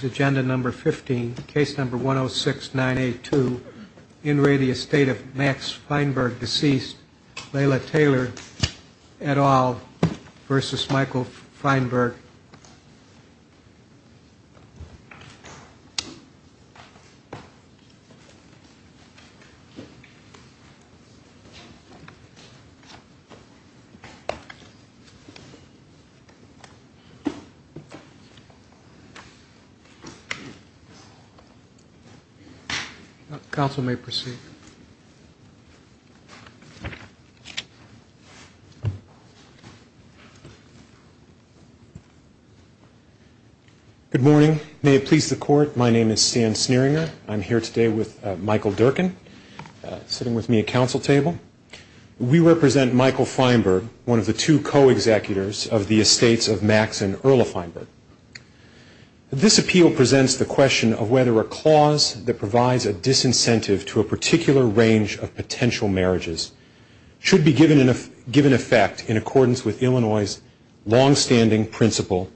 Agenda number 15 case number 106 982 in radio state of Max Feinberg deceased Layla Taylor at all versus Michael Feinberg Good morning, may it please the court. My name is Stan Sneeringer. I'm here today with Michael Durkin sitting with me at council table. We represent Michael Feinberg, one of the two co-executives of the Estates of Max and Layla Feinberg. This appeal presents the question of whether a clause that provides a disincentive to a particular range of potential marriages should be given in effect in accordance with Illinois' long-standing principle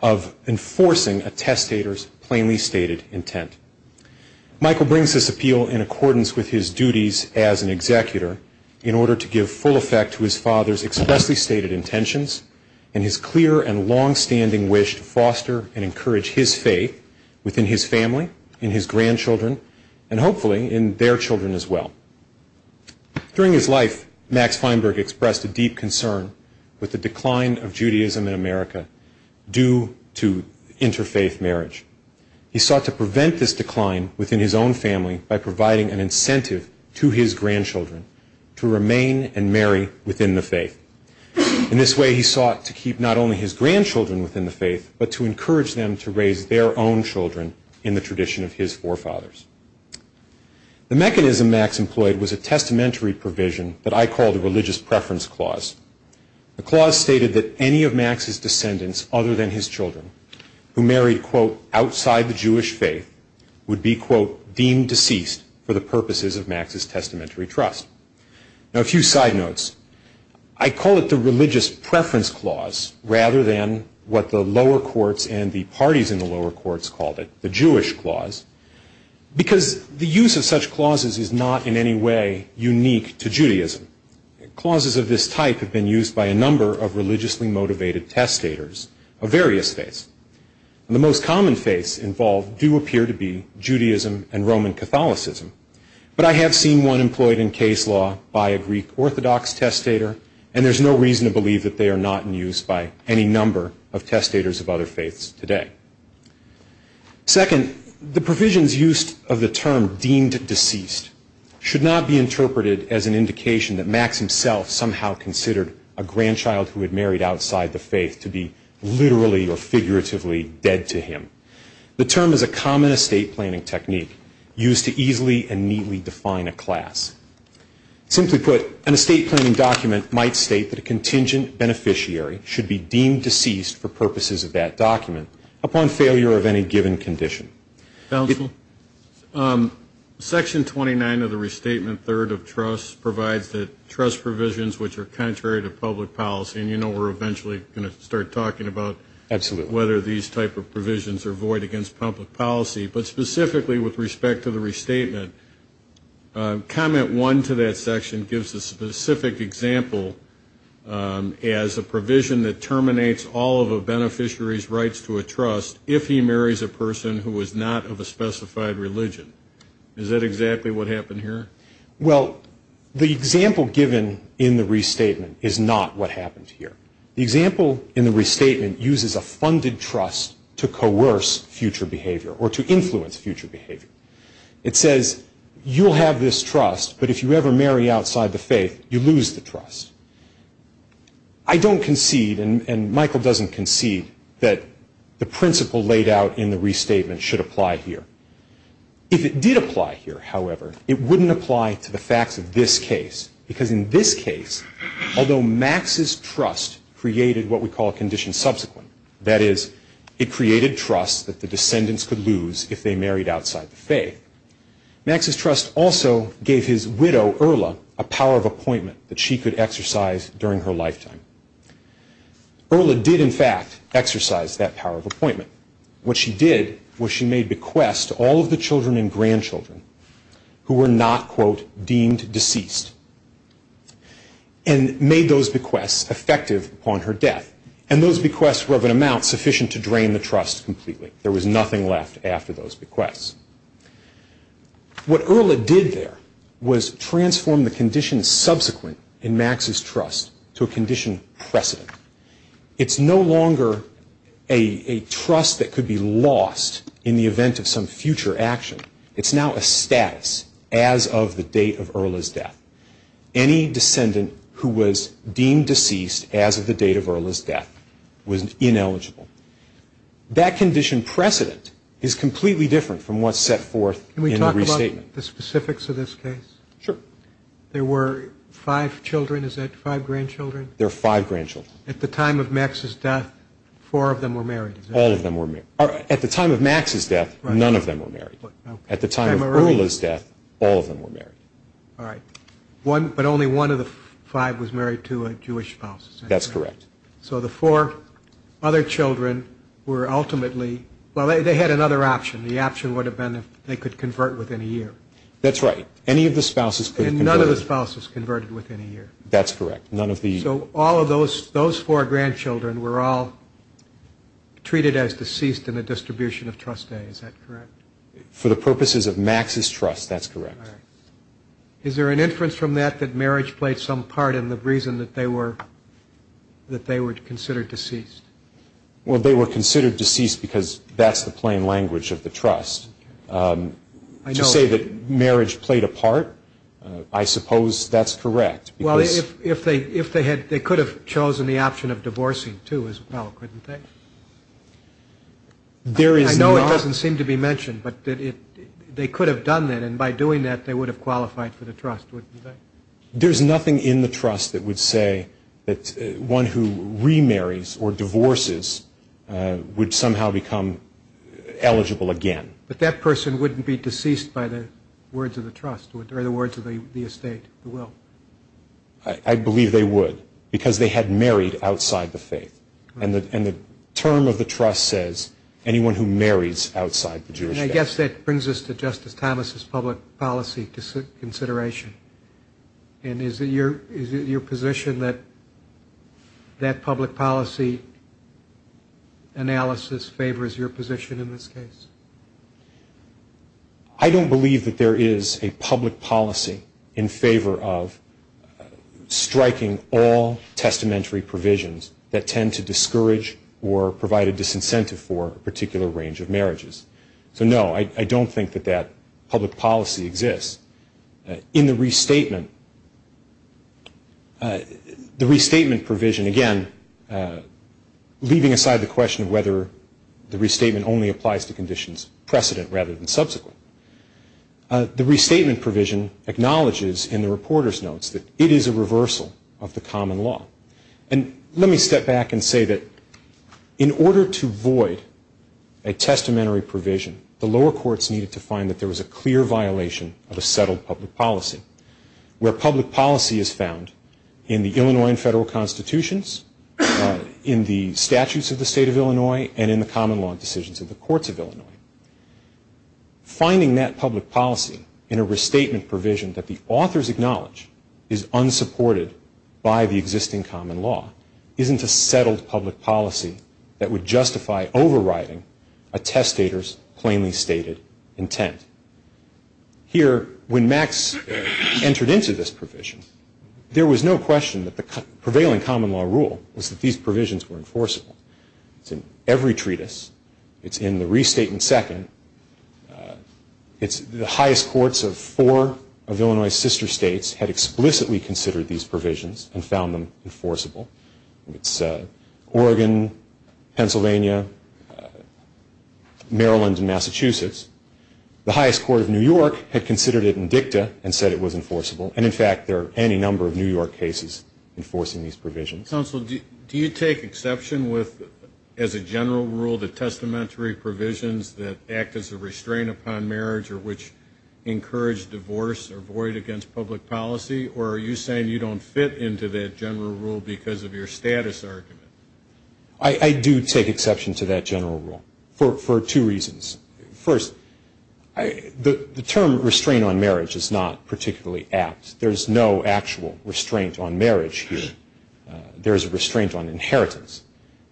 of enforcing a testator's plainly stated intent. Michael brings this appeal in accordance with his duties as an executor in order to give full effect to his father's expressly stated intentions and his clear and long-standing wish to foster and encourage his faith within his family, in his grandchildren, and hopefully in their children as well. During his life, Max Feinberg expressed a deep concern with the decline of Judaism in America due to interfaith marriage. He sought to prevent this decline within his own family by providing an incentive to his grandchildren to remain and marry within the faith. In this way, he sought to keep not only his grandchildren within the faith, but to encourage them to raise their own children in the tradition of his forefathers. The mechanism Max employed was a testamentary provision that I call the Religious Preference Clause. The clause stated that any of Max's descendants other than his children who married, quote, outside the Jewish faith would be, quote, deemed deceased for the purposes of Max's testamentary trust. Now, a few side notes. I call it the Religious Preference Clause rather than what the lower courts and the parties in the lower courts called it, the Jewish clause, because the use of such clauses is not in any way unique to Judaism. Clauses of this type have been used by a number of religiously motivated testators of various faiths. The most common faiths involved do appear to be Judaism and Roman Catholicism, but I have seen one employed in case law by a Greek Orthodox testator, and there's no reason to believe that they are not in use by any number of testators of other faiths today. Second, the provisions used of the term deemed deceased should not be interpreted as an indication that Max himself somehow considered a grandchild who had married outside the faith to be literally or figuratively dead to him. The term is a common estate planning technique used to easily and neatly define a class. Simply put, an estate planning document might state that a contingent beneficiary should be deemed deceased for purposes of that document upon failure of any given condition. Counsel? Section 29 of the Restatement, Third of Trusts, provides that trust provisions which are contrary to public policy, and you know we're eventually going to start talking about whether these type of provisions are void against public policy, but specifically with respect to the restatement, Comment 1 to that section gives a specific example as a provision that terminates all of a beneficiary's rights to a trust if he marries a person who is not of a specified religion. Is that exactly what happened here? Well, the example given in the restatement is not what happened here. The example in the restatement uses a funded trust to coerce future behavior or to influence future behavior. It says, you'll have this trust, but if you ever marry outside the faith, you lose the trust. I don't concede, and Michael doesn't concede, that the principle laid out in the restatement should apply here. If it did apply here, however, it wouldn't apply to the facts of this case, because in this case, although Max's trust created what we call a condition subsequent, that is, it created trust that the descendants could lose if they married outside the faith, Max's trust also gave his widow, Erla, a power of appointment that she could exercise during her lifetime. Erla did, in fact, exercise that power of appointment. What she did was she made bequests to all of the children and grandchildren who were not, quote, deemed deceased, and made those bequests effective upon her death, and those bequests were of an amount sufficient to drain the trust completely. There was nothing left after those bequests. What Erla did there was transform the condition subsequent in Max's trust to a condition precedent. It's no longer a trust that could be lost in the event of some future action. It's now a status as of the date of Erla's death. Any descendant who was deemed deceased as of the date of Erla's death was ineligible. That condition precedent is completely different from what's set forth in the restatement. Can we talk about the specifics of this case? Sure. There were five children, is that five grandchildren? There are five grandchildren. At the time of Max's death, four of them were married? All of them were married. At the time of Max's death, none of them were married. At the time of Erla's death, all of them were married. All right. But only one of the five was married to a Jewish spouse? That's correct. So the four other children were ultimately, well, they had another option. The option would have been if they could convert within a year. That's right. Any of the spouses could have converted. And none of the spouses converted within a year? That's correct. None of the... So all of those four grandchildren were all treated as deceased in the distribution of trustees, is that correct? For the purposes of Max's trust, that's correct. Is there an inference from that that marriage played some part in the reason that they were considered deceased? Well, they were considered deceased because that's the plain language of the trust. To say that marriage played a part, I suppose that's correct. Well, if they had, they could have chosen the option of divorcing too as well, couldn't they? I know it doesn't seem to be mentioned, but they could have done that. They would have qualified for the trust, wouldn't they? There's nothing in the trust that would say that one who remarries or divorces would somehow become eligible again. But that person wouldn't be deceased by the words of the trust or the words of the estate, the will. I believe they would because they had married outside the faith. And the term of the trust says anyone who marries outside the Jewish family. I guess that brings us to Justice Thomas' public policy consideration. And is it your position that that public policy analysis favors your position in this case? I don't believe that there is a public policy in favor of striking all testamentary provisions that tend to discourage or provide a disincentive for a particular range of marriages. I don't think that that public policy exists. In the restatement, the restatement provision, again, leaving aside the question of whether the restatement only applies to conditions precedent rather than subsequent, the restatement provision acknowledges in the reporter's notes that it is a reversal of the common law. And let me step back and say that in order to void a testamentary provision, the lower courts needed to find that there was a clear violation of a settled public policy, where public policy is found in the Illinois and federal constitutions, in the statutes of the state of Illinois, and in the common law decisions of the courts of Illinois. Finding that public policy in a restatement provision that the authors acknowledge is unsupported by the existing common law isn't a settled public policy that would justify overriding a testator's plainly stated intent. Here, when Max entered into this provision, there was no question that the prevailing common law rule was that these provisions were enforceable. It's in every treatise. It's in the restatement second. It's the highest courts of four of Illinois' sister states had explicitly considered these provisions and found them enforceable. It's Oregon, Pennsylvania, Maryland, and Massachusetts. The highest court of New York had considered it in dicta and said it was enforceable. And in fact, there are any number of New York cases enforcing these provisions. Counsel, do you take exception with, as a general rule, the testamentary provisions that act as a restraint upon marriage or which encourage divorce or void against public policy? Or are you saying you don't fit into that general rule because of your status argument? I do take exception to that general rule for two reasons. First, the term restraint on marriage is not particularly apt. There's no actual restraint on marriage here. There's a restraint on inheritance.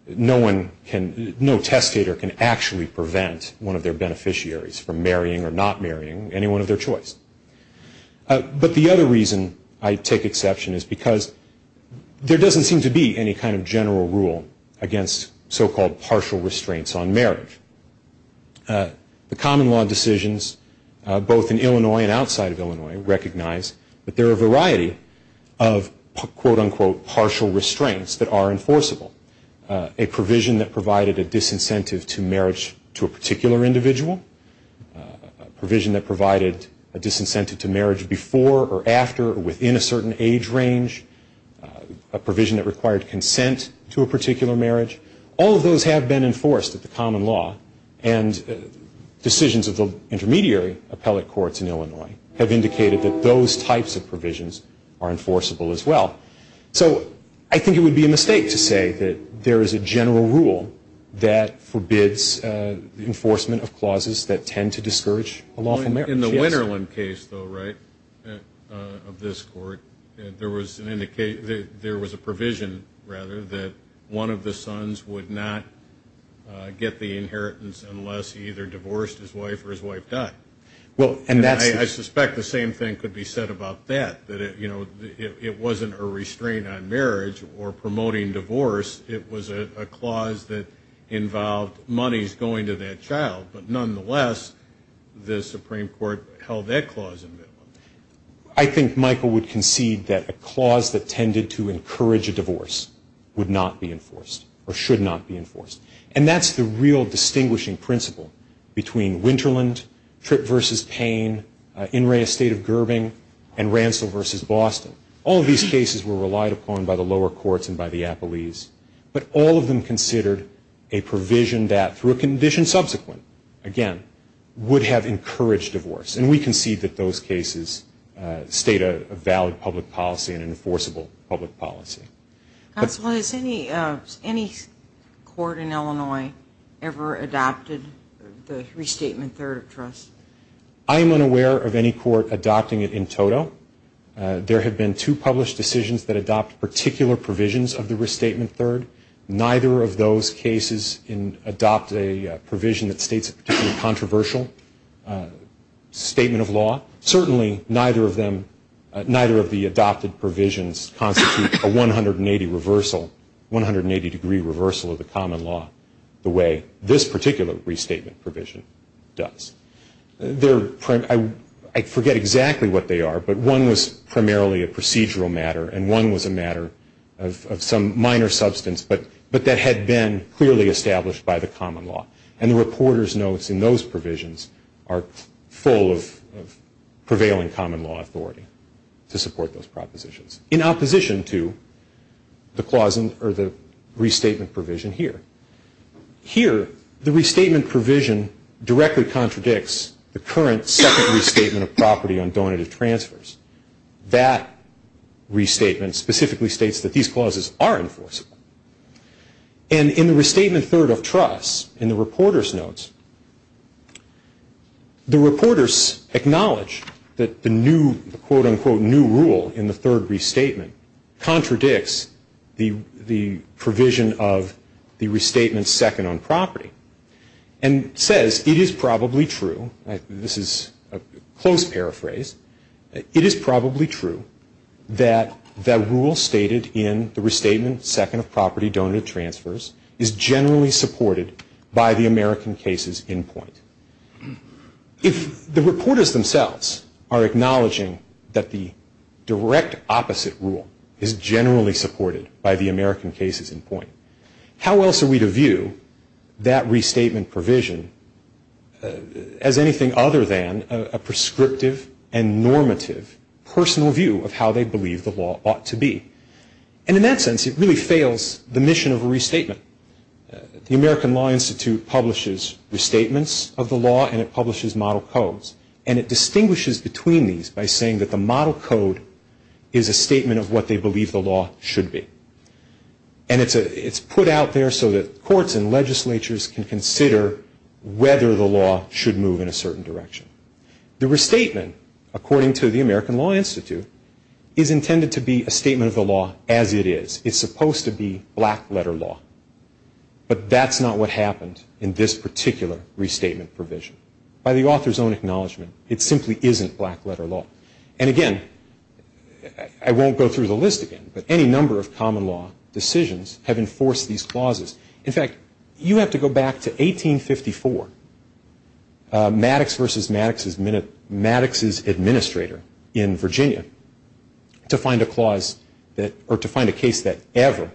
No testator can actually prevent one of their beneficiaries from marrying or not marrying anyone of their choice. But the other reason I take exception is because there doesn't seem to be any kind of general rule against so-called partial restraints on marriage. The common law decisions, both in Illinois and outside of Illinois, recognize that there are a variety of quote-unquote partial restraints that are enforceable. A provision that provided a disincentive to marriage to a particular individual. A provision that provided a disincentive to marriage before or after or within a certain age range. A provision that required consent to a particular marriage. All of those have been enforced at the common law. And decisions of the intermediary appellate courts in Illinois have indicated that those types of provisions are enforceable as well. So I think it would be a mistake to say that there is a general rule that forbids enforcement of clauses that tend to discourage a lawful marriage. In the Winterland case though, right, of this court, there was an indication, there was a provision rather, that one of the sons would not get the inheritance unless he either divorced his wife or his wife died. Well, and that's... I suspect the same thing could be said about that. That it, you know, it wasn't a restraint on marriage or promoting divorce. It was a clause that involved monies going to that child. But nonetheless, the Supreme Court held that clause in. I think Michael would concede that a clause that tended to encourage a divorce would not be enforced or should not be enforced. And that's the real distinguishing principle between Winterland, Tripp v. Payne, In re Estate of Gerbing, and Ransom v. Boston. All of these cases were relied upon by the lower courts and by the appellees. But all of them considered a provision that, through a condition subsequent, again, would have encouraged divorce. And we concede that those cases state a valid public policy and an enforceable public policy. Counsel, has any court in Illinois ever adopted the Restatement Third of Trust? I am unaware of any court adopting it in total. There have been two published decisions that adopt particular provisions of the Restatement Third. Neither of those cases adopt a provision that states a particularly controversial statement of law. Certainly, neither of the adopted provisions constitute a 180-degree reversal of the common law the way this particular restatement provision does. I forget exactly what they are, but one was primarily a procedural matter and one was a matter of some minor substance, but that had been clearly established by the common law. And the reporter's notes in those provisions are full of prevailing common law authority to support those propositions. This is in opposition to the Restatement provision here. Here, the Restatement provision directly contradicts the current second restatement of property on donative transfers. That restatement specifically states that these clauses are enforceable. And in the Restatement Third of Trust, in the reporter's notes, the reporters acknowledge that the new, quote-unquote, new rule in the third restatement contradicts the provision of the restatement second on property and says, it is probably true, this is a close paraphrase, it is probably true that the rule stated in the Restatement Second of Property Donative Transfers is generally supported by the American cases in point. If the reporters themselves are acknowledging that the direct opposite rule is generally supported by the American cases in point, how else are we to view that restatement provision as anything other than a prescriptive and normative personal view of how they believe the law ought to be? And in that sense, it really fails the mission of a restatement. The American Law Institute publishes restatements of the law and it publishes model codes. And it distinguishes between these by saying that the model code is a statement of what they believe the law should be. And it's put out there so that courts and legislatures can consider whether the law should move in a certain direction. The restatement, according to the American Law Institute, is intended to be a statement of the law as it is. It's supposed to be black letter law. But that's not what happened in this particular restatement provision. By the author's own acknowledgement, it simply isn't black letter law. And again, I won't go through the list again, but any number of common law decisions have enforced these clauses. In fact, you have to go back to 1854, Maddox versus Maddox's administrator in Virginia, to find a case that ever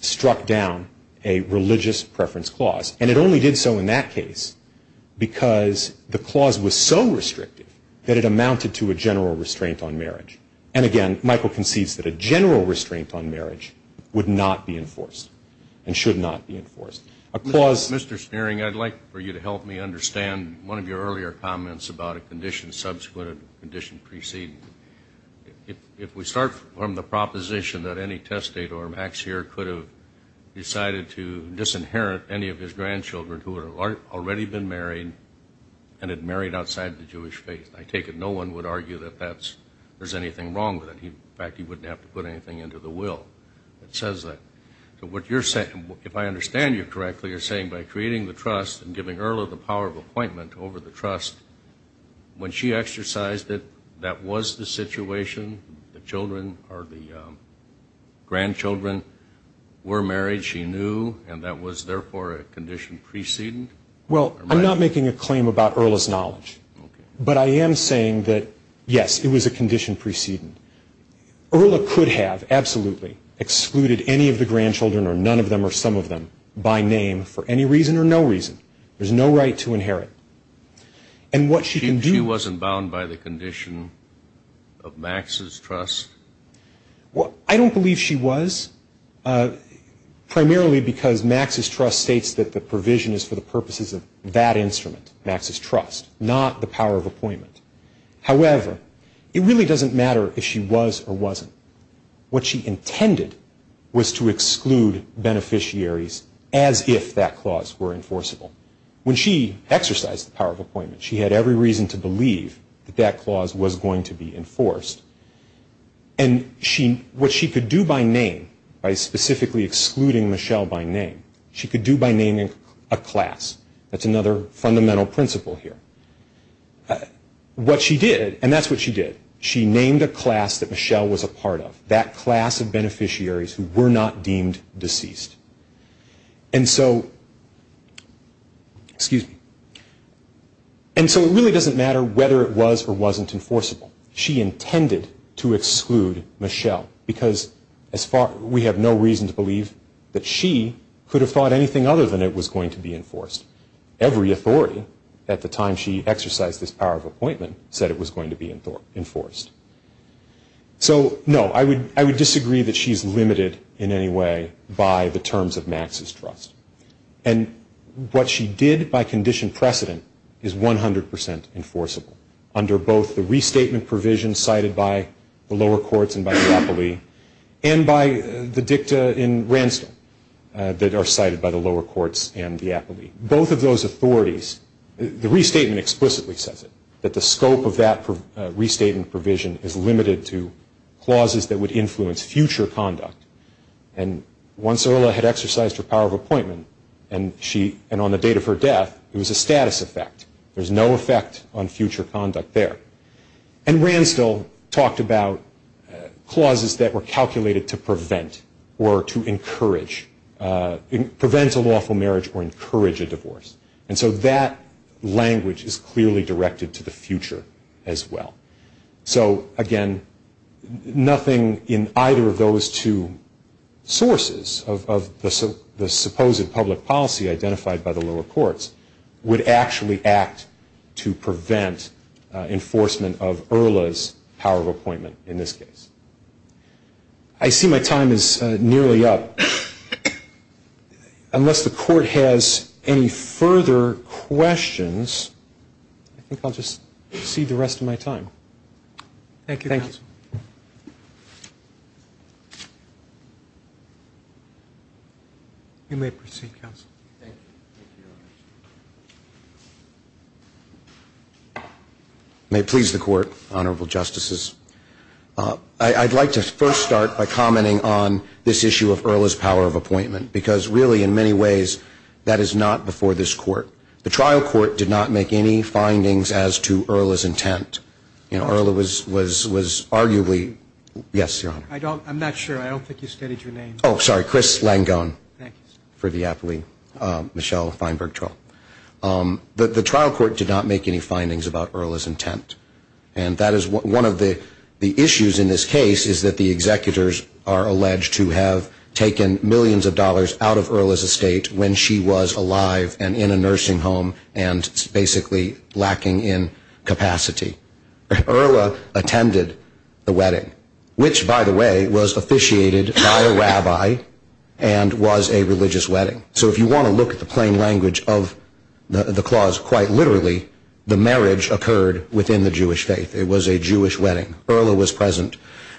struck down a religious preference clause. And it only did so in that case. Because the clause was so restrictive that it amounted to a general restraint on marriage. And again, Michael concedes that a general restraint on marriage would not be enforced. And should not be enforced. Mr. Spearing, I'd like for you to help me understand one of your earlier comments about a condition subsequent and a condition preceding. If we start from the proposition that any testate or max here could have decided to disinherit any of his grandchildren who had already been married and had married outside the Jewish faith. I take it no one would argue that there's anything wrong with it. In fact, he wouldn't have to put anything into the will that says that. If I understand you correctly, you're saying by creating the trust and giving Erla the power of appointment over the trust, when she exercised it, that was the situation. The grandchildren were married, she knew, and that was therefore a condition preceding? Well, I'm not making a claim about Erla's knowledge. But I am saying that, yes, it was a condition preceding. Erla could have absolutely excluded any of the grandchildren or none of them or some of them by name for any reason or no reason. There's no right to inherit. And what she can do... She wasn't bound by the condition of Max's trust? Well, I don't believe she was, primarily because Max's trust states that the provision is for the purposes of that instrument, Max's trust, not the power of appointment. However, it really doesn't matter if she was or wasn't. What she intended was to exclude beneficiaries as if that clause were enforceable. When she exercised the power of appointment, she had every reason to believe that that clause was going to be enforced. And what she could do by name, by specifically excluding Michelle by name, she could do by naming a class. That's another fundamental principle here. What she did, and that's what she did, she named a class that Michelle was a part of, that class of beneficiaries who were not deemed deceased. And so... Excuse me. And so it really doesn't matter whether it was or wasn't enforceable. She intended to exclude Michelle because we have no reason to believe that she could have thought anything other than it was going to be enforced. Every authority at the time she exercised this power of appointment said it was going to be enforced. So, no, I would disagree that she's limited in any way by the terms of Max's trust. And what she did by condition precedent is 100% enforceable under both the restatement provision cited by the lower courts and by the Apolee and by the dicta in Ransdell that are cited by the lower courts and the Apolee. Both of those authorities... The restatement explicitly says it, that the scope of that restatement provision is limited to clauses that would influence future conduct. And once Erla had exercised her power of appointment, and on the date of her death, it was a status effect. There's no effect on future conduct there. And Ransdell talked about clauses that were calculated to prevent or to encourage... prevent a lawful marriage or encourage a divorce. And so that language is clearly directed to the future as well. So, again, nothing in either of those two sources of the supposed public policy identified by the lower courts would actually act to prevent enforcement of Erla's power of appointment in this case. I see my time is nearly up. Unless the court has any further questions, I think I'll just proceed the rest of my time. You may proceed, counsel. Thank you. May it please the Court, Honorable Justices. I'd like to first start by commenting on this issue of Erla's power of appointment, because really, in many ways, that is not before this Court. The trial court did not make any findings as to Erla's intent. Erla was arguably... Yes, Your Honor. I'm not sure. I don't think you stated your name. Oh, sorry. Chris Langone. Thank you, sir. For the aptly Michelle Feinberg troll. The trial court did not make any findings about Erla's intent. And that is one of the issues in this case, is that the executors are alleged to have taken millions of dollars out of Erla's estate when she was alive and in a nursing home and basically lacking in capacity. Erla attended the wedding, which, by the way, was officiated by a rabbi and was a religious wedding. So if you want to look at the plain language of the clause quite literally, the marriage occurred within the Jewish faith. It was a Jewish wedding. Erla was present.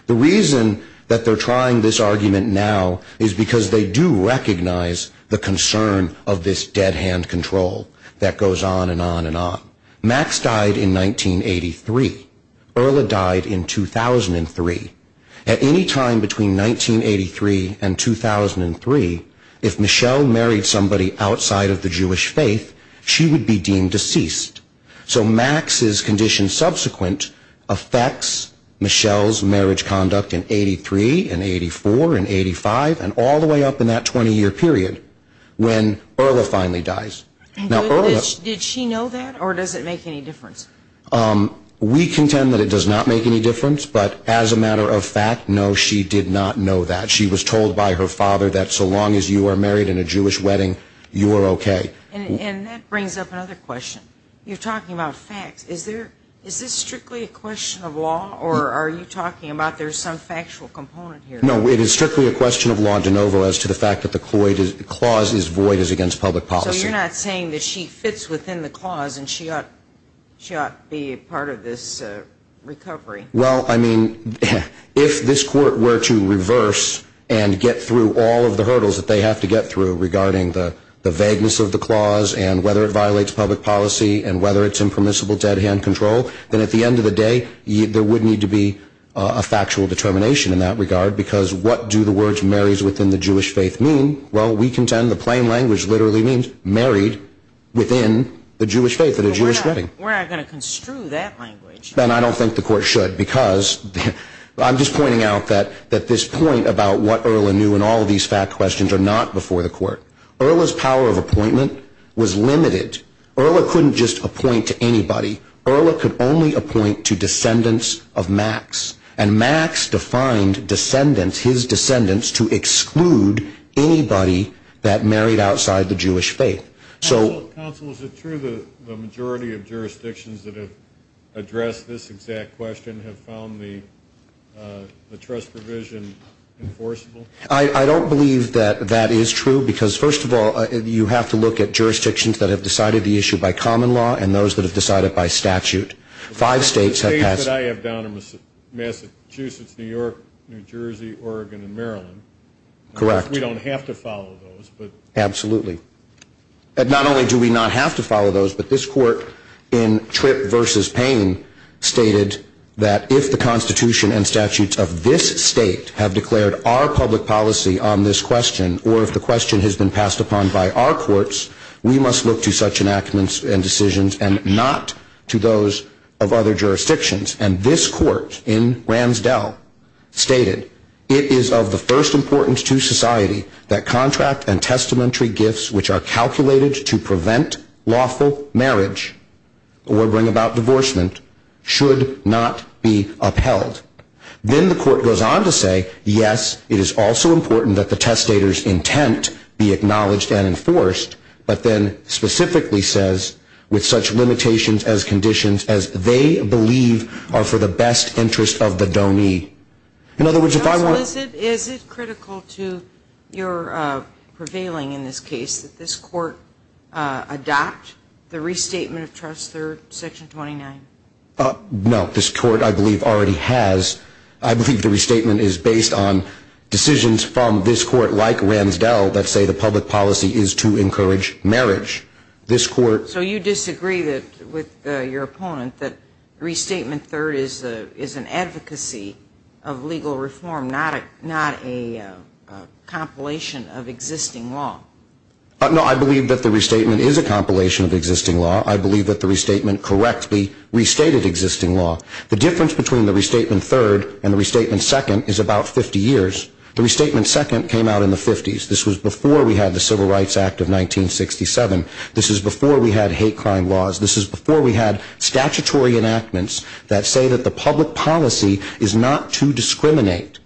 The reason that they're trying this argument now is because they do recognize the concern of this dead hand control that goes on and on and on. Max died in 1983. Erla died in 2003. At any time between 1983 and 2003, if Michelle married somebody outside of the Jewish faith, she would be deemed deceased. So Max's condition subsequent affects Michelle's marriage conduct in 83 and 84 and 85 and all the way up in that 20 year period when Erla finally dies. Did she know that or does it make any difference? We contend that it does not make any difference, but as a matter of fact, no, she did not know that. She was told by her father that so long as you are married in a Jewish wedding, you are okay. And that brings up another question. You're talking about facts. Is this strictly a question of law or are you talking about there's some factual component here? No, it is strictly a question of law, DeNovo, as to the fact that the clause is void as against public policy. So you're not saying that she fits within the clause and she ought to be a part of this recovery? Well, I mean, if this court were to reverse and get through all of the hurdles that they have to get through regarding the vagueness of the clause and whether it violates public policy and whether it's impermissible dead hand control, then at the end of the day, there would need to be a factual determination in that regard because what do the words marries within the Jewish faith mean? Well, we contend the plain language literally means married within the Jewish faith at a Jewish wedding. We're not going to construe that language. And I don't think the court should because I'm just pointing out that this point about what Erla knew and all of these fact questions are not before the court. Erla's power of appointment was limited. Erla couldn't just appoint to anybody. Erla could only appoint to descendants of Max. And Max defined descendants, his descendants, to exclude anybody that married outside the Jewish faith. Counsel, is it true the majority of jurisdictions that have addressed this exact question have found the trust provision enforceable? I don't believe that that is true because, first of all, you have to look at jurisdictions that have decided the issue by common law and those that have decided by statute. Five states have passed. The states that I have down are Massachusetts, New York, New Jersey, Oregon, and Maryland. Correct. We don't have to follow those, but. Absolutely. Not only do we not have to follow those, but this court in Tripp v. Payne stated that if the Constitution and statutes of this state have declared our public policy on this question or if the question has been passed upon by our courts, we must look to such enactments and decisions and not to those of other jurisdictions. And this court in Ransdell stated, it is of the first importance to society that contract and testamentary gifts which are calculated to prevent lawful marriage or bring about divorcement should not be upheld. Then the court goes on to say, yes, it is also important that the testator's intent be acknowledged and enforced but then specifically says with such limitations as conditions as they believe are for the best interest of the donee. In other words, if I were. Is it critical to your prevailing in this case that this court adopt the restatement of trust third, section 29? No. This court, I believe, already has. I believe the restatement is based on decisions from this court like Ransdell that say the public policy is to encourage marriage. This court. So you disagree with your opponent that restatement third is an advocacy of legal reform, not a compilation of existing law? No, I believe that the restatement is a compilation of existing law. I believe that the restatement correctly restated existing law. The difference between the restatement third and the restatement second is about 50 years. The restatement second came out in the 50s. This was before we had the Civil Rights Act of 1967. This is before we had hate crime laws. This is before we had statutory enactments that say that the public policy is not to discriminate.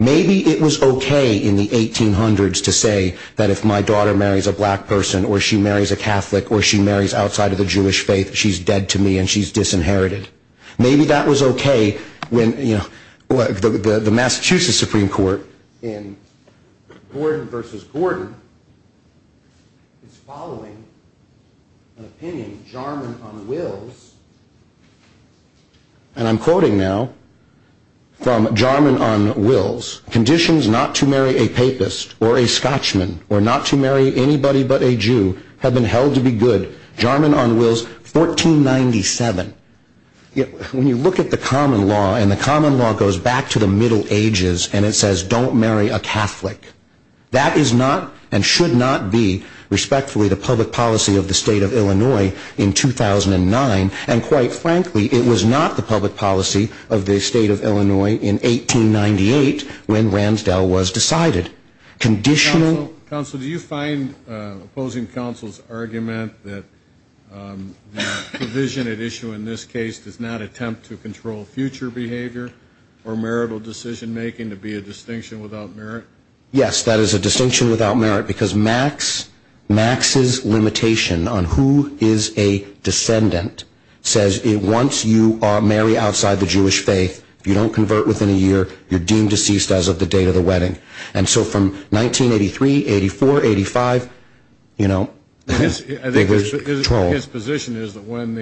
Maybe it was okay in the 1800s to say that if my daughter marries a black person or she marries a Catholic or she marries outside of the Jewish faith, she's dead to me and she's disinherited. Maybe that was okay when the Massachusetts Supreme Court in Gordon v. Gordon is following an opinion, Jarman on Wills, and I'm quoting now from Jarman on Wills. Conditions not to marry a papist or a Scotchman or not to marry anybody but a Jew have been held to be good. Jarman on Wills, 1497. When you look at the common law, and the common law goes back to the Middle Ages, and it says don't marry a Catholic, that is not and should not be, respectfully, the public policy of the state of Illinois in 2009, and quite frankly, it was not the public policy of the state of Illinois in 1898 when Ransdell was decided. Counsel, do you find opposing counsel's argument that the provision at issue in this case does not attempt to control future behavior or marital decision-making to be a distinction without merit? Yes, that is a distinction without merit because Max's limitation on who is a descendant says once you marry outside the Jewish faith, you don't convert within a year, you're deemed deceased as of the date of the wedding. And so from 1983, 84, 85, you know, it was controlled. I think his position is that when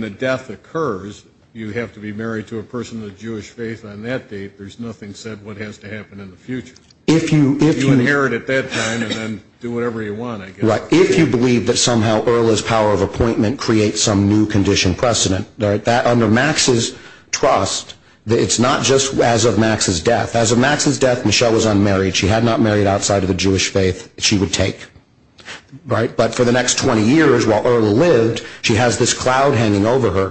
the death occurs, you have to be married to a person of the Jewish faith on that date. There's nothing said what has to happen in the future. If you inherit at that time and then do whatever you want, I guess. Right. If you believe that somehow Earl's power of appointment creates some new condition precedent, under Max's trust, it's not just as of Max's death. As of Max's death, Michelle was unmarried. She had not married outside of the Jewish faith. She would take. But for the next 20 years while Earl lived, she has this cloud hanging over her.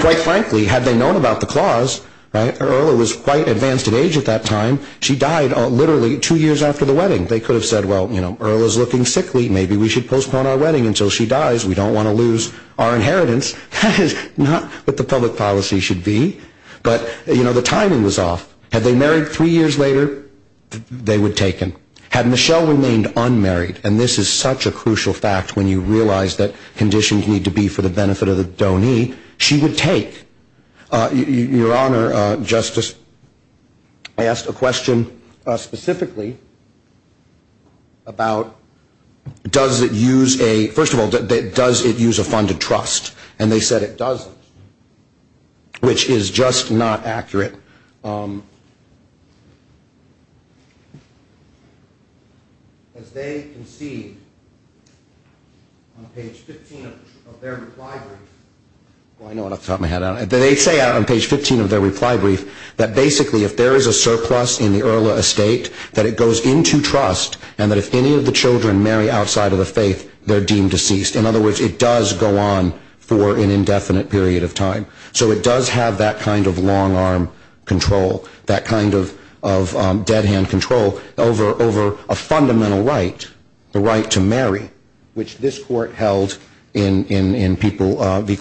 Quite frankly, had they known about the clause, Earl was quite advanced in age at that time. She died literally two years after the wedding. They could have said, well, Earl is looking sickly. Maybe we should postpone our wedding until she dies. We don't want to lose our inheritance. That is not what the public policy should be. But, you know, the timing was off. Had they married three years later, they would have taken. Had Michelle remained unmarried, and this is such a crucial fact when you realize that conditions need to be for the benefit of the donee, she would take. Your Honor, Justice, I asked a question specifically about does it use a, first of all, does it use a funded trust? And they said it doesn't, which is just not accurate. As they concede on page 15 of their reply brief, they say on page 15 of their reply brief that basically if there is a surplus in the Earl estate, that it goes into trust and that if any of the children marry outside of the faith, they're deemed deceased. In other words, it does go on for an indefinite period of time. So it does have that kind of long arm control, that kind of dead hand control over a fundamental right, the right to marry, which this court held in people, the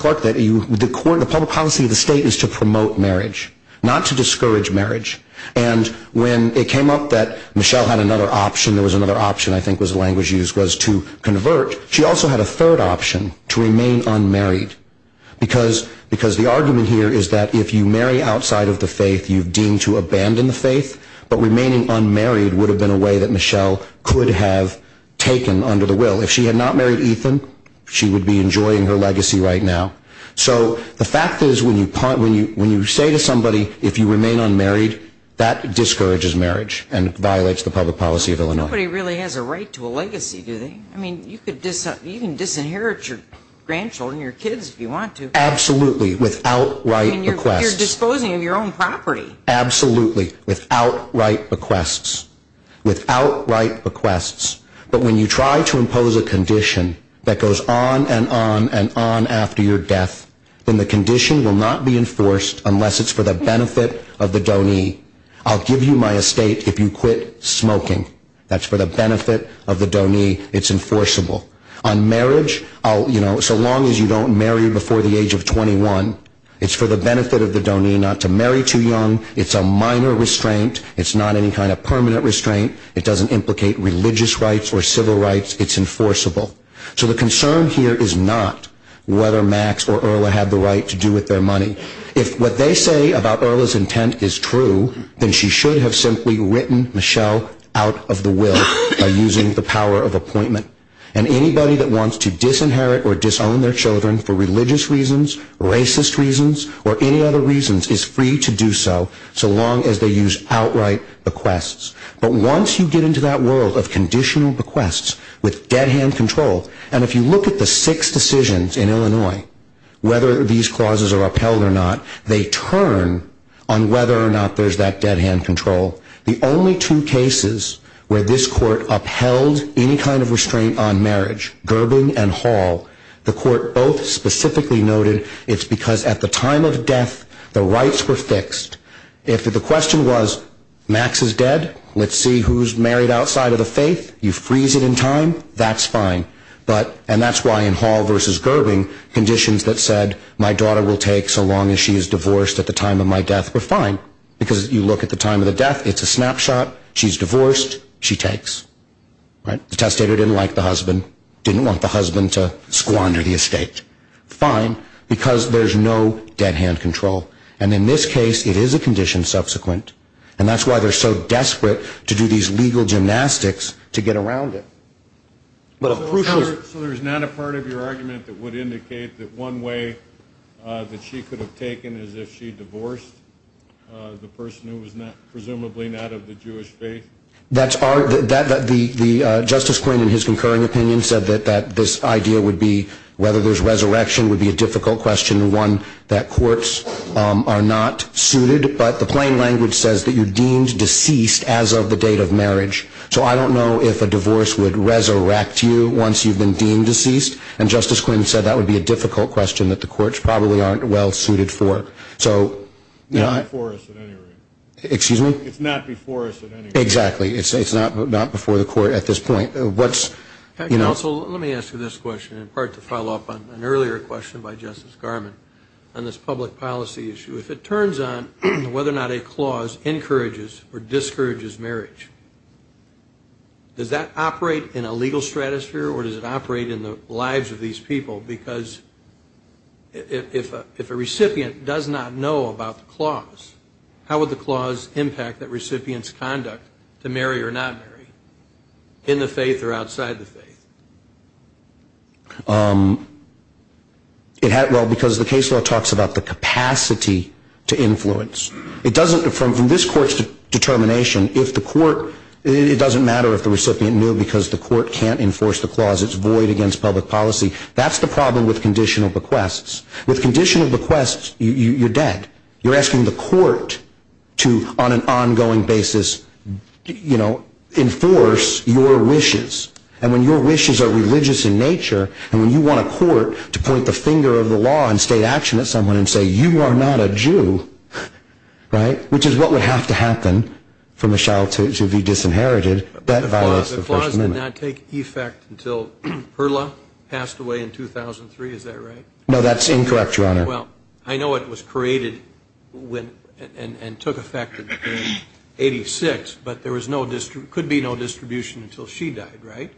court, the public policy of the state is to promote marriage, not to discourage marriage. And when it came up that Michelle had another option, there was another option I think was language used, was to convert. She also had a third option, to remain unmarried. Because the argument here is that if you marry outside of the faith, you're deemed to abandon the faith, but remaining unmarried would have been a way that Michelle could have taken under the will. If she had not married Ethan, she would be enjoying her legacy right now. So the fact is when you say to somebody, if you remain unmarried, that discourages marriage and violates the public policy of Illinois. Nobody really has a right to a legacy, do they? I mean, you can disinherit your grandchildren, your kids if you want to. Absolutely, without right bequests. I mean, you're disposing of your own property. Absolutely, without right bequests. Without right bequests. But when you try to impose a condition that goes on and on and on after your death, then the condition will not be enforced unless it's for the benefit of the donee. I'll give you my estate if you quit smoking. That's for the benefit of the donee. It's enforceable. On marriage, so long as you don't marry before the age of 21, it's for the benefit of the donee not to marry too young. It's a minor restraint. It's not any kind of permanent restraint. It doesn't implicate religious rights or civil rights. It's enforceable. So the concern here is not whether Max or Erla had the right to do with their money. If what they say about Erla's intent is true, then she should have simply written Michelle out of the will by using the power of appointment. And anybody that wants to disinherit or disown their children for religious reasons, racist reasons, or any other reasons is free to do so, so long as they use outright bequests. But once you get into that world of conditional bequests with dead-hand control, and if you look at the six decisions in Illinois, whether these clauses are upheld or not, they turn on whether or not there's that dead-hand control. The only two cases where this court upheld any kind of restraint on marriage, Gerbing and Hall, the court both specifically noted it's because at the time of death the rights were fixed. If the question was, Max is dead, let's see who's married outside of the faith, you freeze it in time, that's fine. And that's why in Hall versus Gerbing, conditions that said, my daughter will take so long as she is divorced at the time of my death were fine. Because you look at the time of the death, it's a snapshot, she's divorced, she takes. The testator didn't like the husband, didn't want the husband to squander the estate. Fine, because there's no dead-hand control. And in this case, it is a condition subsequent, and that's why they're so desperate to do these legal gymnastics to get around it. So there's not a part of your argument that would indicate that one way that she could have taken is if she divorced the person who was presumably not of the Jewish faith? That's our, the Justice Quinn in his concurring opinion said that this idea would be, whether there's resurrection would be a difficult question, one that courts are not suited. But the plain language says that you're deemed deceased as of the date of marriage. So I don't know if a divorce would resurrect you once you've been deemed deceased. And Justice Quinn said that would be a difficult question that the courts probably aren't well suited for. So, you know, I. It's not before us at any rate. Excuse me? It's not before us at any rate. Exactly. It's not before the court at this point. Let me ask you this question in part to follow up on an earlier question by Justice Garmon on this public policy issue. If it turns on whether or not a clause encourages or discourages marriage, does that operate in a legal stratosphere or does it operate in the lives of these people? Because if a recipient does not know about the clause, how would the clause impact that recipient's conduct to marry or not marry in the faith or outside the faith? Well, because the case law talks about the capacity to influence. It doesn't, from this court's determination, if the court, it doesn't matter if the recipient knew because the court can't enforce the clause. It's void against public policy. That's the problem with conditional bequests. With conditional bequests, you're dead. You're asking the court to, on an ongoing basis, you know, enforce your wishes. And when your wishes are religious in nature and when you want a court to point the finger of the law and state action at someone and say, you are not a Jew, right, which is what would have to happen for Michelle to be disinherited, that violates the First Amendment. But the clause did not take effect until Perla passed away in 2003. Is that right? No, that's incorrect, Your Honor. Well, I know it was created and took effect in 86, but there could be no distribution until she died, right?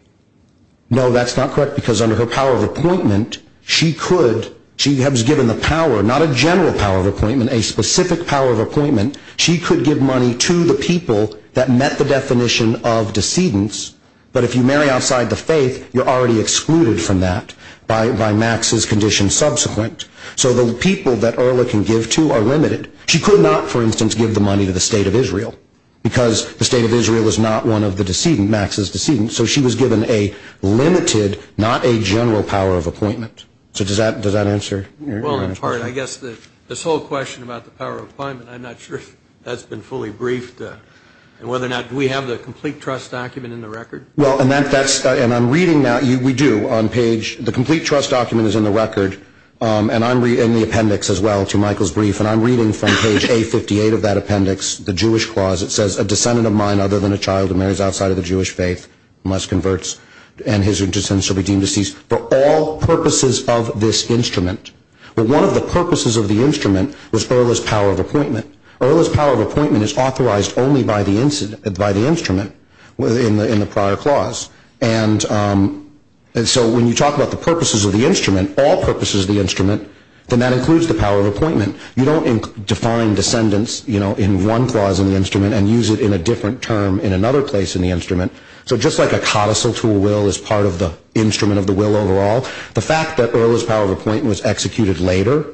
No, that's not correct because under her power of appointment, she could, she was given the power, not a general power of appointment, a specific power of appointment. She could give money to the people that met the definition of decedents, but if you marry outside the faith, you're already excluded from that by Max's condition subsequent. So the people that Erla can give to are limited. She could not, for instance, give the money to the State of Israel because the State of Israel is not one of the decedent, Max's decedent. So she was given a limited, not a general power of appointment. So does that answer your question? Well, in part. I guess this whole question about the power of appointment, I'm not sure if that's been fully briefed and whether or not we have the complete trust document in the record. Well, and that's, and I'm reading now, we do on page, the complete trust document is in the record. And I'm reading the appendix as well to Michael's brief. And I'm reading from page A58 of that appendix, the Jewish clause. It says, a descendant of mine other than a child who marries outside of the Jewish faith, unless converts and his or her descendants shall be deemed deceased for all purposes of this instrument. But one of the purposes of the instrument was Erla's power of appointment. Erla's power of appointment is authorized only by the instrument in the prior clause. And so when you talk about the purposes of the instrument, all purposes of the instrument, then that includes the power of appointment. You don't define descendants, you know, in one clause in the instrument and use it in a different term in another place in the instrument. So just like a codicil to a will is part of the instrument of the will overall, the fact that Erla's power of appointment was executed later,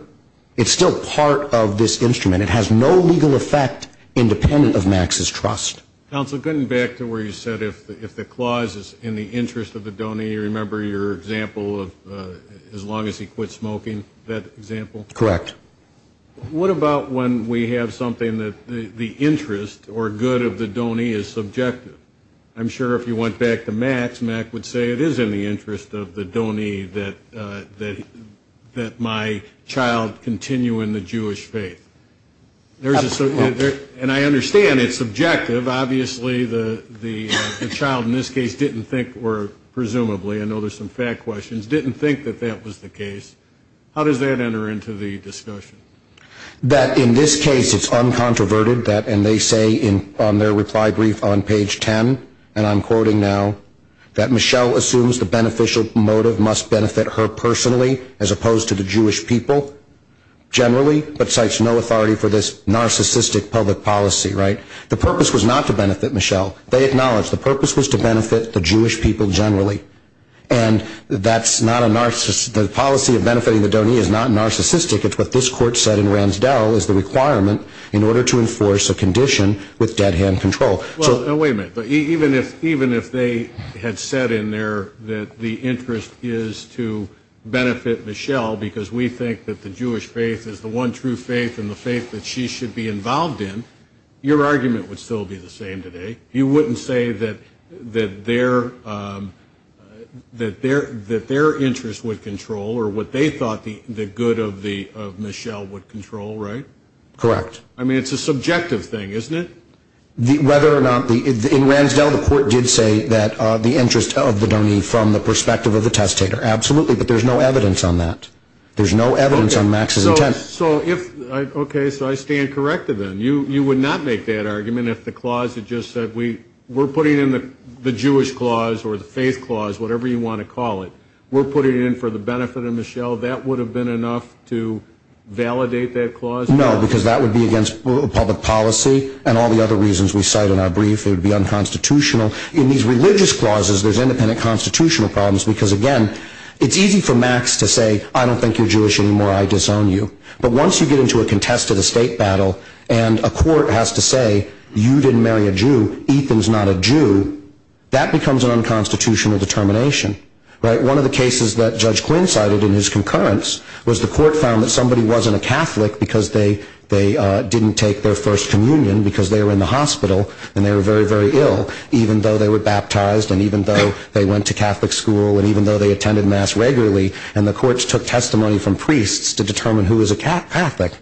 it's still part of this instrument. It has no legal effect independent of Max's trust. Counsel, going back to where you said if the clause is in the interest of the donee, you remember your example of as long as he quit smoking, that example? Correct. What about when we have something that the interest or good of the donee is subjective? I'm sure if you went back to Max, Max would say it is in the interest of the donee that my child continue in the Jewish faith. Absolutely. And I understand it's subjective. Obviously the child in this case didn't think or presumably, I know there's some fact questions, didn't think that that was the case. How does that enter into the discussion? That in this case it's uncontroverted that, and they say on their reply brief on page 10, and I'm quoting now, that Michelle assumes the beneficial motive must benefit her personally as opposed to the Jewish people generally, but cites no authority for this narcissistic public policy, right? The purpose was not to benefit Michelle. They acknowledge the purpose was to benefit the Jewish people generally, and that's not a, the policy of benefiting the donee is not narcissistic. It's what this court said in Ransdell is the requirement in order to enforce a condition with dead hand control. Even if they had said in there that the interest is to benefit Michelle because we think that the Jewish faith is the one true faith and the faith that she should be involved in, your argument would still be the same today. You wouldn't say that their interest would control or what they thought the good of Michelle would control, right? Correct. I mean, it's a subjective thing, isn't it? Whether or not, in Ransdell the court did say that the interest of the donee from the perspective of the testator, absolutely, but there's no evidence on that. There's no evidence on Max's intent. So if, okay, so I stand corrected then. You would not make that argument if the clause had just said we're putting in the Jewish clause or the faith clause, whatever you want to call it, we're putting it in for the benefit of Michelle. That would have been enough to validate that clause? No, because that would be against public policy and all the other reasons we cite in our brief. It would be unconstitutional. In these religious clauses, there's independent constitutional problems because, again, it's easy for Max to say I don't think you're Jewish anymore, I disown you. But once you get into a contested estate battle and a court has to say you didn't marry a Jew, Ethan's not a Jew, that becomes an unconstitutional determination, right? One of the cases that Judge Quinn cited in his concurrence was the court found that somebody wasn't a Catholic because they didn't take their first communion because they were in the hospital and they were very, very ill, even though they were baptized and even though they went to Catholic school and even though they attended Mass regularly, and the courts took testimony from priests to determine who was a Catholic.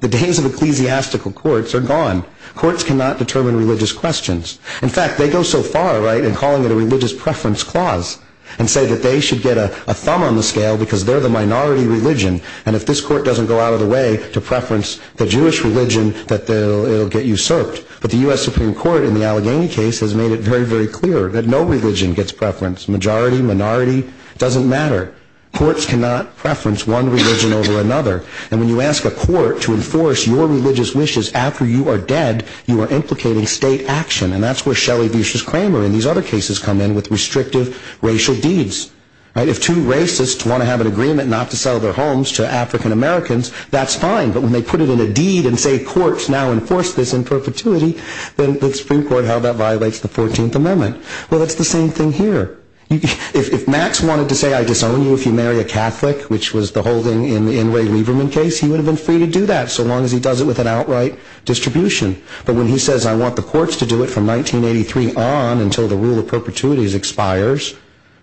The days of ecclesiastical courts are gone. Courts cannot determine religious questions. In fact, they go so far, right, in calling it a religious preference clause and say that they should get a thumb on the scale because they're the minority religion and if this court doesn't go out of the way to preference the Jewish religion, it'll get usurped. But the U.S. Supreme Court in the Allegheny case has made it very, very clear that no religion gets preference. Majority, minority, doesn't matter. Courts cannot preference one religion over another. And when you ask a court to enforce your religious wishes after you are dead, you are implicating state action. And that's where Shelley Vicious-Kramer and these other cases come in with restrictive racial deeds, right? If two racists want to have an agreement not to sell their homes to African Americans, that's fine. But when they put it in a deed and say courts now enforce this in perpetuity, then the Supreme Court held that violates the 14th Amendment. Well, it's the same thing here. If Max wanted to say I disown you if you marry a Catholic, which was the whole thing in Ray Lieberman's case, he would have been free to do that so long as he does it with an outright distribution. But when he says I want the courts to do it from 1983 on until the rule of perpetuities expires,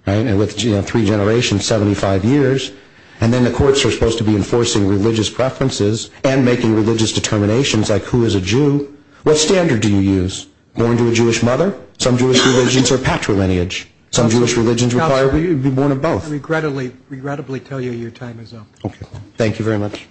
right, starting with three generations, 75 years, and then the courts are supposed to be enforcing religious preferences and making religious determinations like who is a Jew. What standard do you use? Born to a Jewish mother? Some Jewish religions are patrilineage. Some Jewish religions require you to be born of both. I regrettably tell you your time is up. Okay. Thank you very much.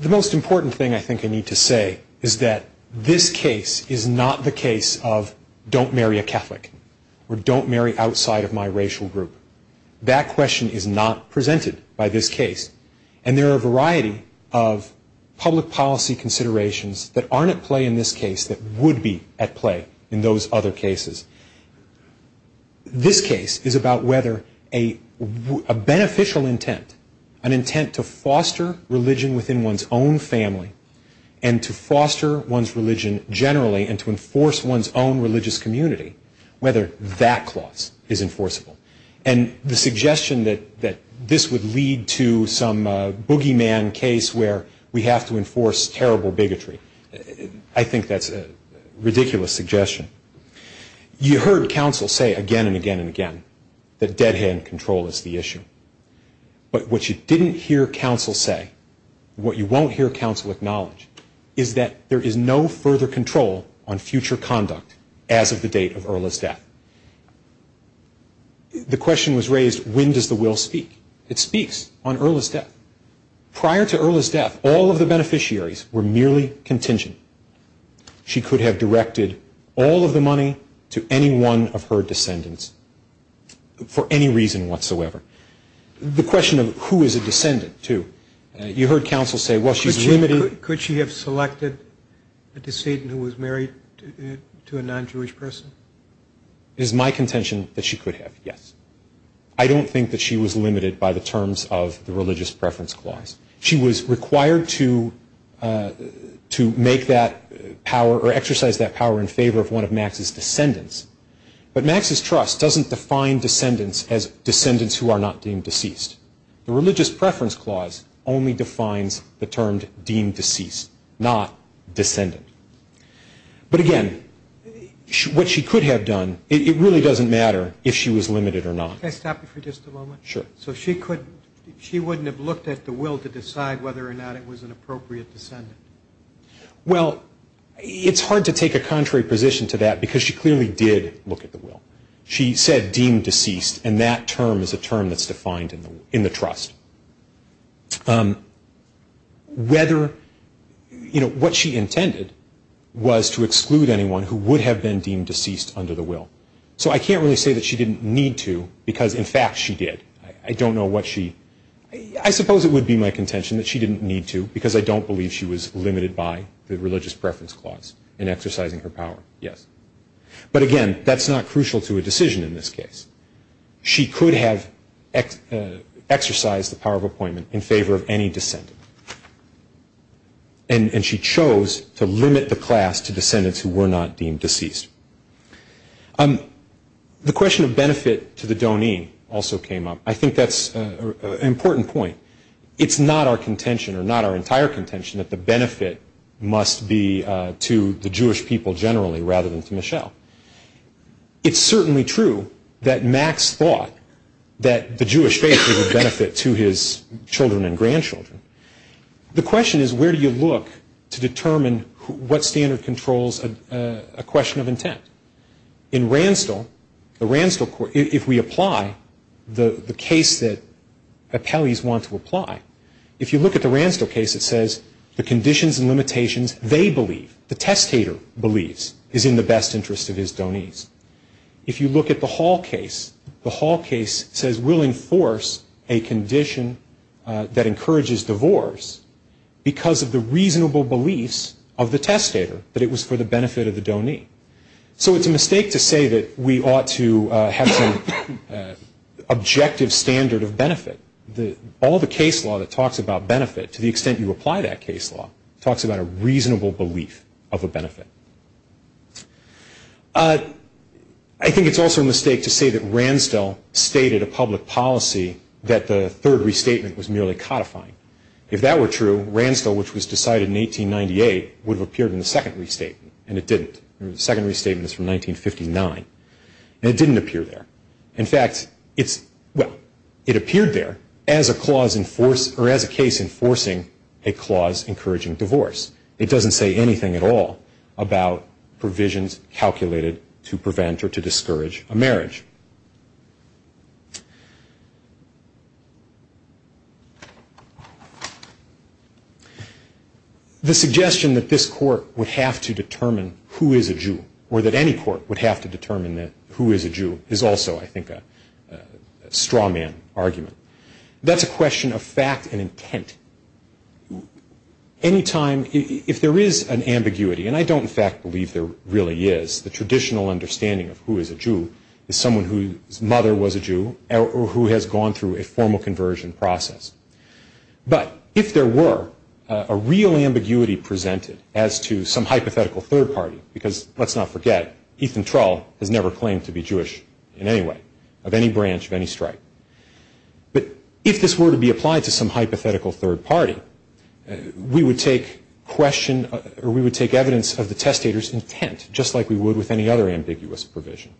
The most important thing I think I need to say is that this case is not the case of don't marry a Catholic or don't marry outside of my racial group. That question is not presented by this case. And there are a variety of public policy considerations that aren't at play in this case that would be at play in those other cases. This case is about whether a beneficial intent, an intent to foster religion within one's own family and to foster one's religion generally and to enforce one's own religious community, whether that clause is enforceable. And the suggestion that this would lead to some boogeyman case where we have to enforce terrible bigotry, I think that's a ridiculous suggestion. You heard counsel say again and again and again that dead hand control is the issue. But what you didn't hear counsel say, what you won't hear counsel acknowledge, is that there is no further control on future conduct as of the date of Erla's death. The question was raised, when does the will speak? It speaks on Erla's death. Prior to Erla's death, all of the beneficiaries were merely contingent. She could have directed all of the money to any one of her descendants for any reason whatsoever. The question of who is a descendant, too, you heard counsel say, well, she's limited. Could she have selected a descendant who was married to a non-Jewish person? It is my contention that she could have, yes. I don't think that she was limited by the terms of the religious preference clause. She was required to make that power or exercise that power in favor of one of Max's descendants. But Max's trust doesn't define descendants as descendants who are not deemed deceased. The religious preference clause only defines the term deemed deceased, not descendant. But again, what she could have done, it really doesn't matter if she was limited or not. Can I stop you for just a moment? Sure. So she wouldn't have looked at the will to decide whether or not it was an appropriate descendant? Well, it's hard to take a contrary position to that because she clearly did look at the will. She said deemed deceased, and that term is a term that's defined in the trust. What she intended was to exclude anyone who would have been deemed deceased under the will. So I can't really say that she didn't need to because, in fact, she did. I don't know what she – I suppose it would be my contention that she didn't need to because I don't believe she was limited by the religious preference clause in exercising her power, yes. But again, that's not crucial to a decision in this case. She could have exercised the power of appointment in favor of any descendant, and she chose to limit the class to descendants who were not deemed deceased. The question of benefit to the doneen also came up. I think that's an important point. It's not our contention or not our entire contention that the benefit must be to the Jewish people generally rather than to Michelle. It's certainly true that Max thought that the Jewish faith would benefit to his children and grandchildren. The question is where do you look to determine what standard controls a question of intent? In Ransdell, if we apply the case that appellees want to apply, if you look at the Ransdell case, it says the conditions and limitations they believe, the testator believes, is in the best interest of his donees. If you look at the Hall case, the Hall case says we'll enforce a condition that encourages divorce because of the reasonable beliefs of the testator that it was for the benefit of the donee. So it's a mistake to say that we ought to have some objective standard of benefit. All the case law that talks about benefit, to the extent you apply that case law, talks about a reasonable belief of a benefit. I think it's also a mistake to say that Ransdell stated a public policy that the third restatement was merely codifying. If that were true, Ransdell, which was decided in 1898, would have appeared in the second restatement, and it didn't. The second restatement is from 1959, and it didn't appear there. In fact, it appeared there as a case enforcing a clause encouraging divorce. It doesn't say anything at all about provisions calculated to prevent or to discourage a marriage. The suggestion that this court would have to determine who is a Jew, is also, I think, a straw man argument. That's a question of fact and intent. If there is an ambiguity, and I don't in fact believe there really is, the traditional understanding of who is a Jew is someone whose mother was a Jew or who has gone through a formal conversion process. But if there were a real ambiguity presented as to some hypothetical third party, because let's not forget, Ethan Trull has never claimed to be Jewish in any way, of any branch, of any stripe. But if this were to be applied to some hypothetical third party, we would take evidence of the testator's intent, just like we would with any other ambiguous provision.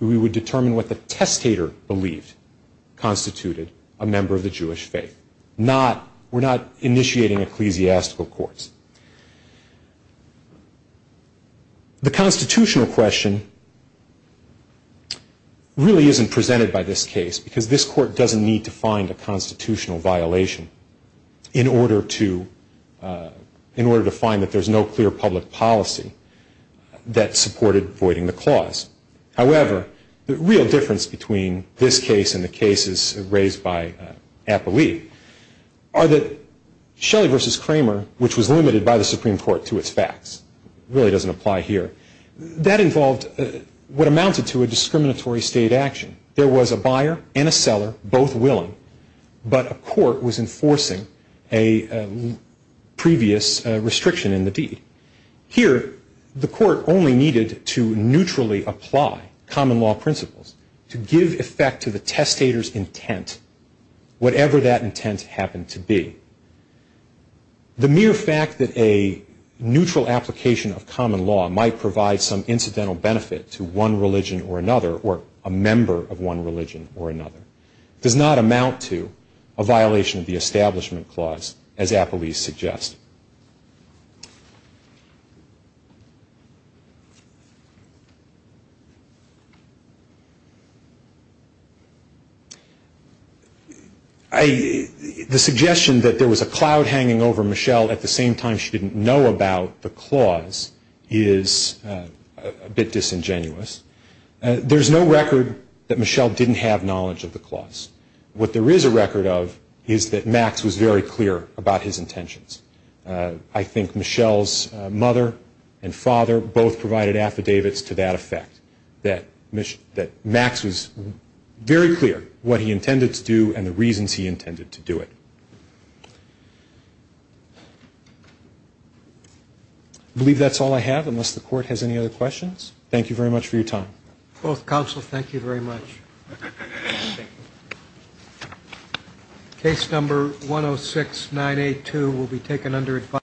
We would determine what the testator believed constituted a member of the Jewish faith. We're not initiating ecclesiastical courts. The constitutional question really isn't presented by this case because this court doesn't need to find a constitutional violation in order to find that there's no clear public policy that supported voiding the clause. However, the real difference between this case and the cases raised by Apolli are that Shelley v. Kramer, which was limited by the Supreme Court to its facts, really doesn't apply here. That involved what amounted to a discriminatory state action. There was a buyer and a seller, both willing, but a court was enforcing a previous restriction in the deed. Here, the court only needed to neutrally apply common law principles to give effect to the testator's intent, whatever that intent happened to be. The mere fact that a neutral application of common law might provide some incidental benefit to one religion or another, or a member of one religion or another, does not amount to a violation of the Establishment Clause, as Apolli suggests. The suggestion that there was a cloud hanging over Michelle at the same time she didn't know about the clause is a bit disingenuous. There's no record that Michelle didn't have knowledge of the clause. What there is a record of is that Max was very clear about his intentions. I think Michelle's mother and father both provided affidavits to that effect, that Max was very clear what he intended to do and the reasons he intended to do it. I believe that's all I have, unless the Court has any other questions. Thank you very much for your time. Both counsel, thank you very much. Case number 106982 will be taken under advisory.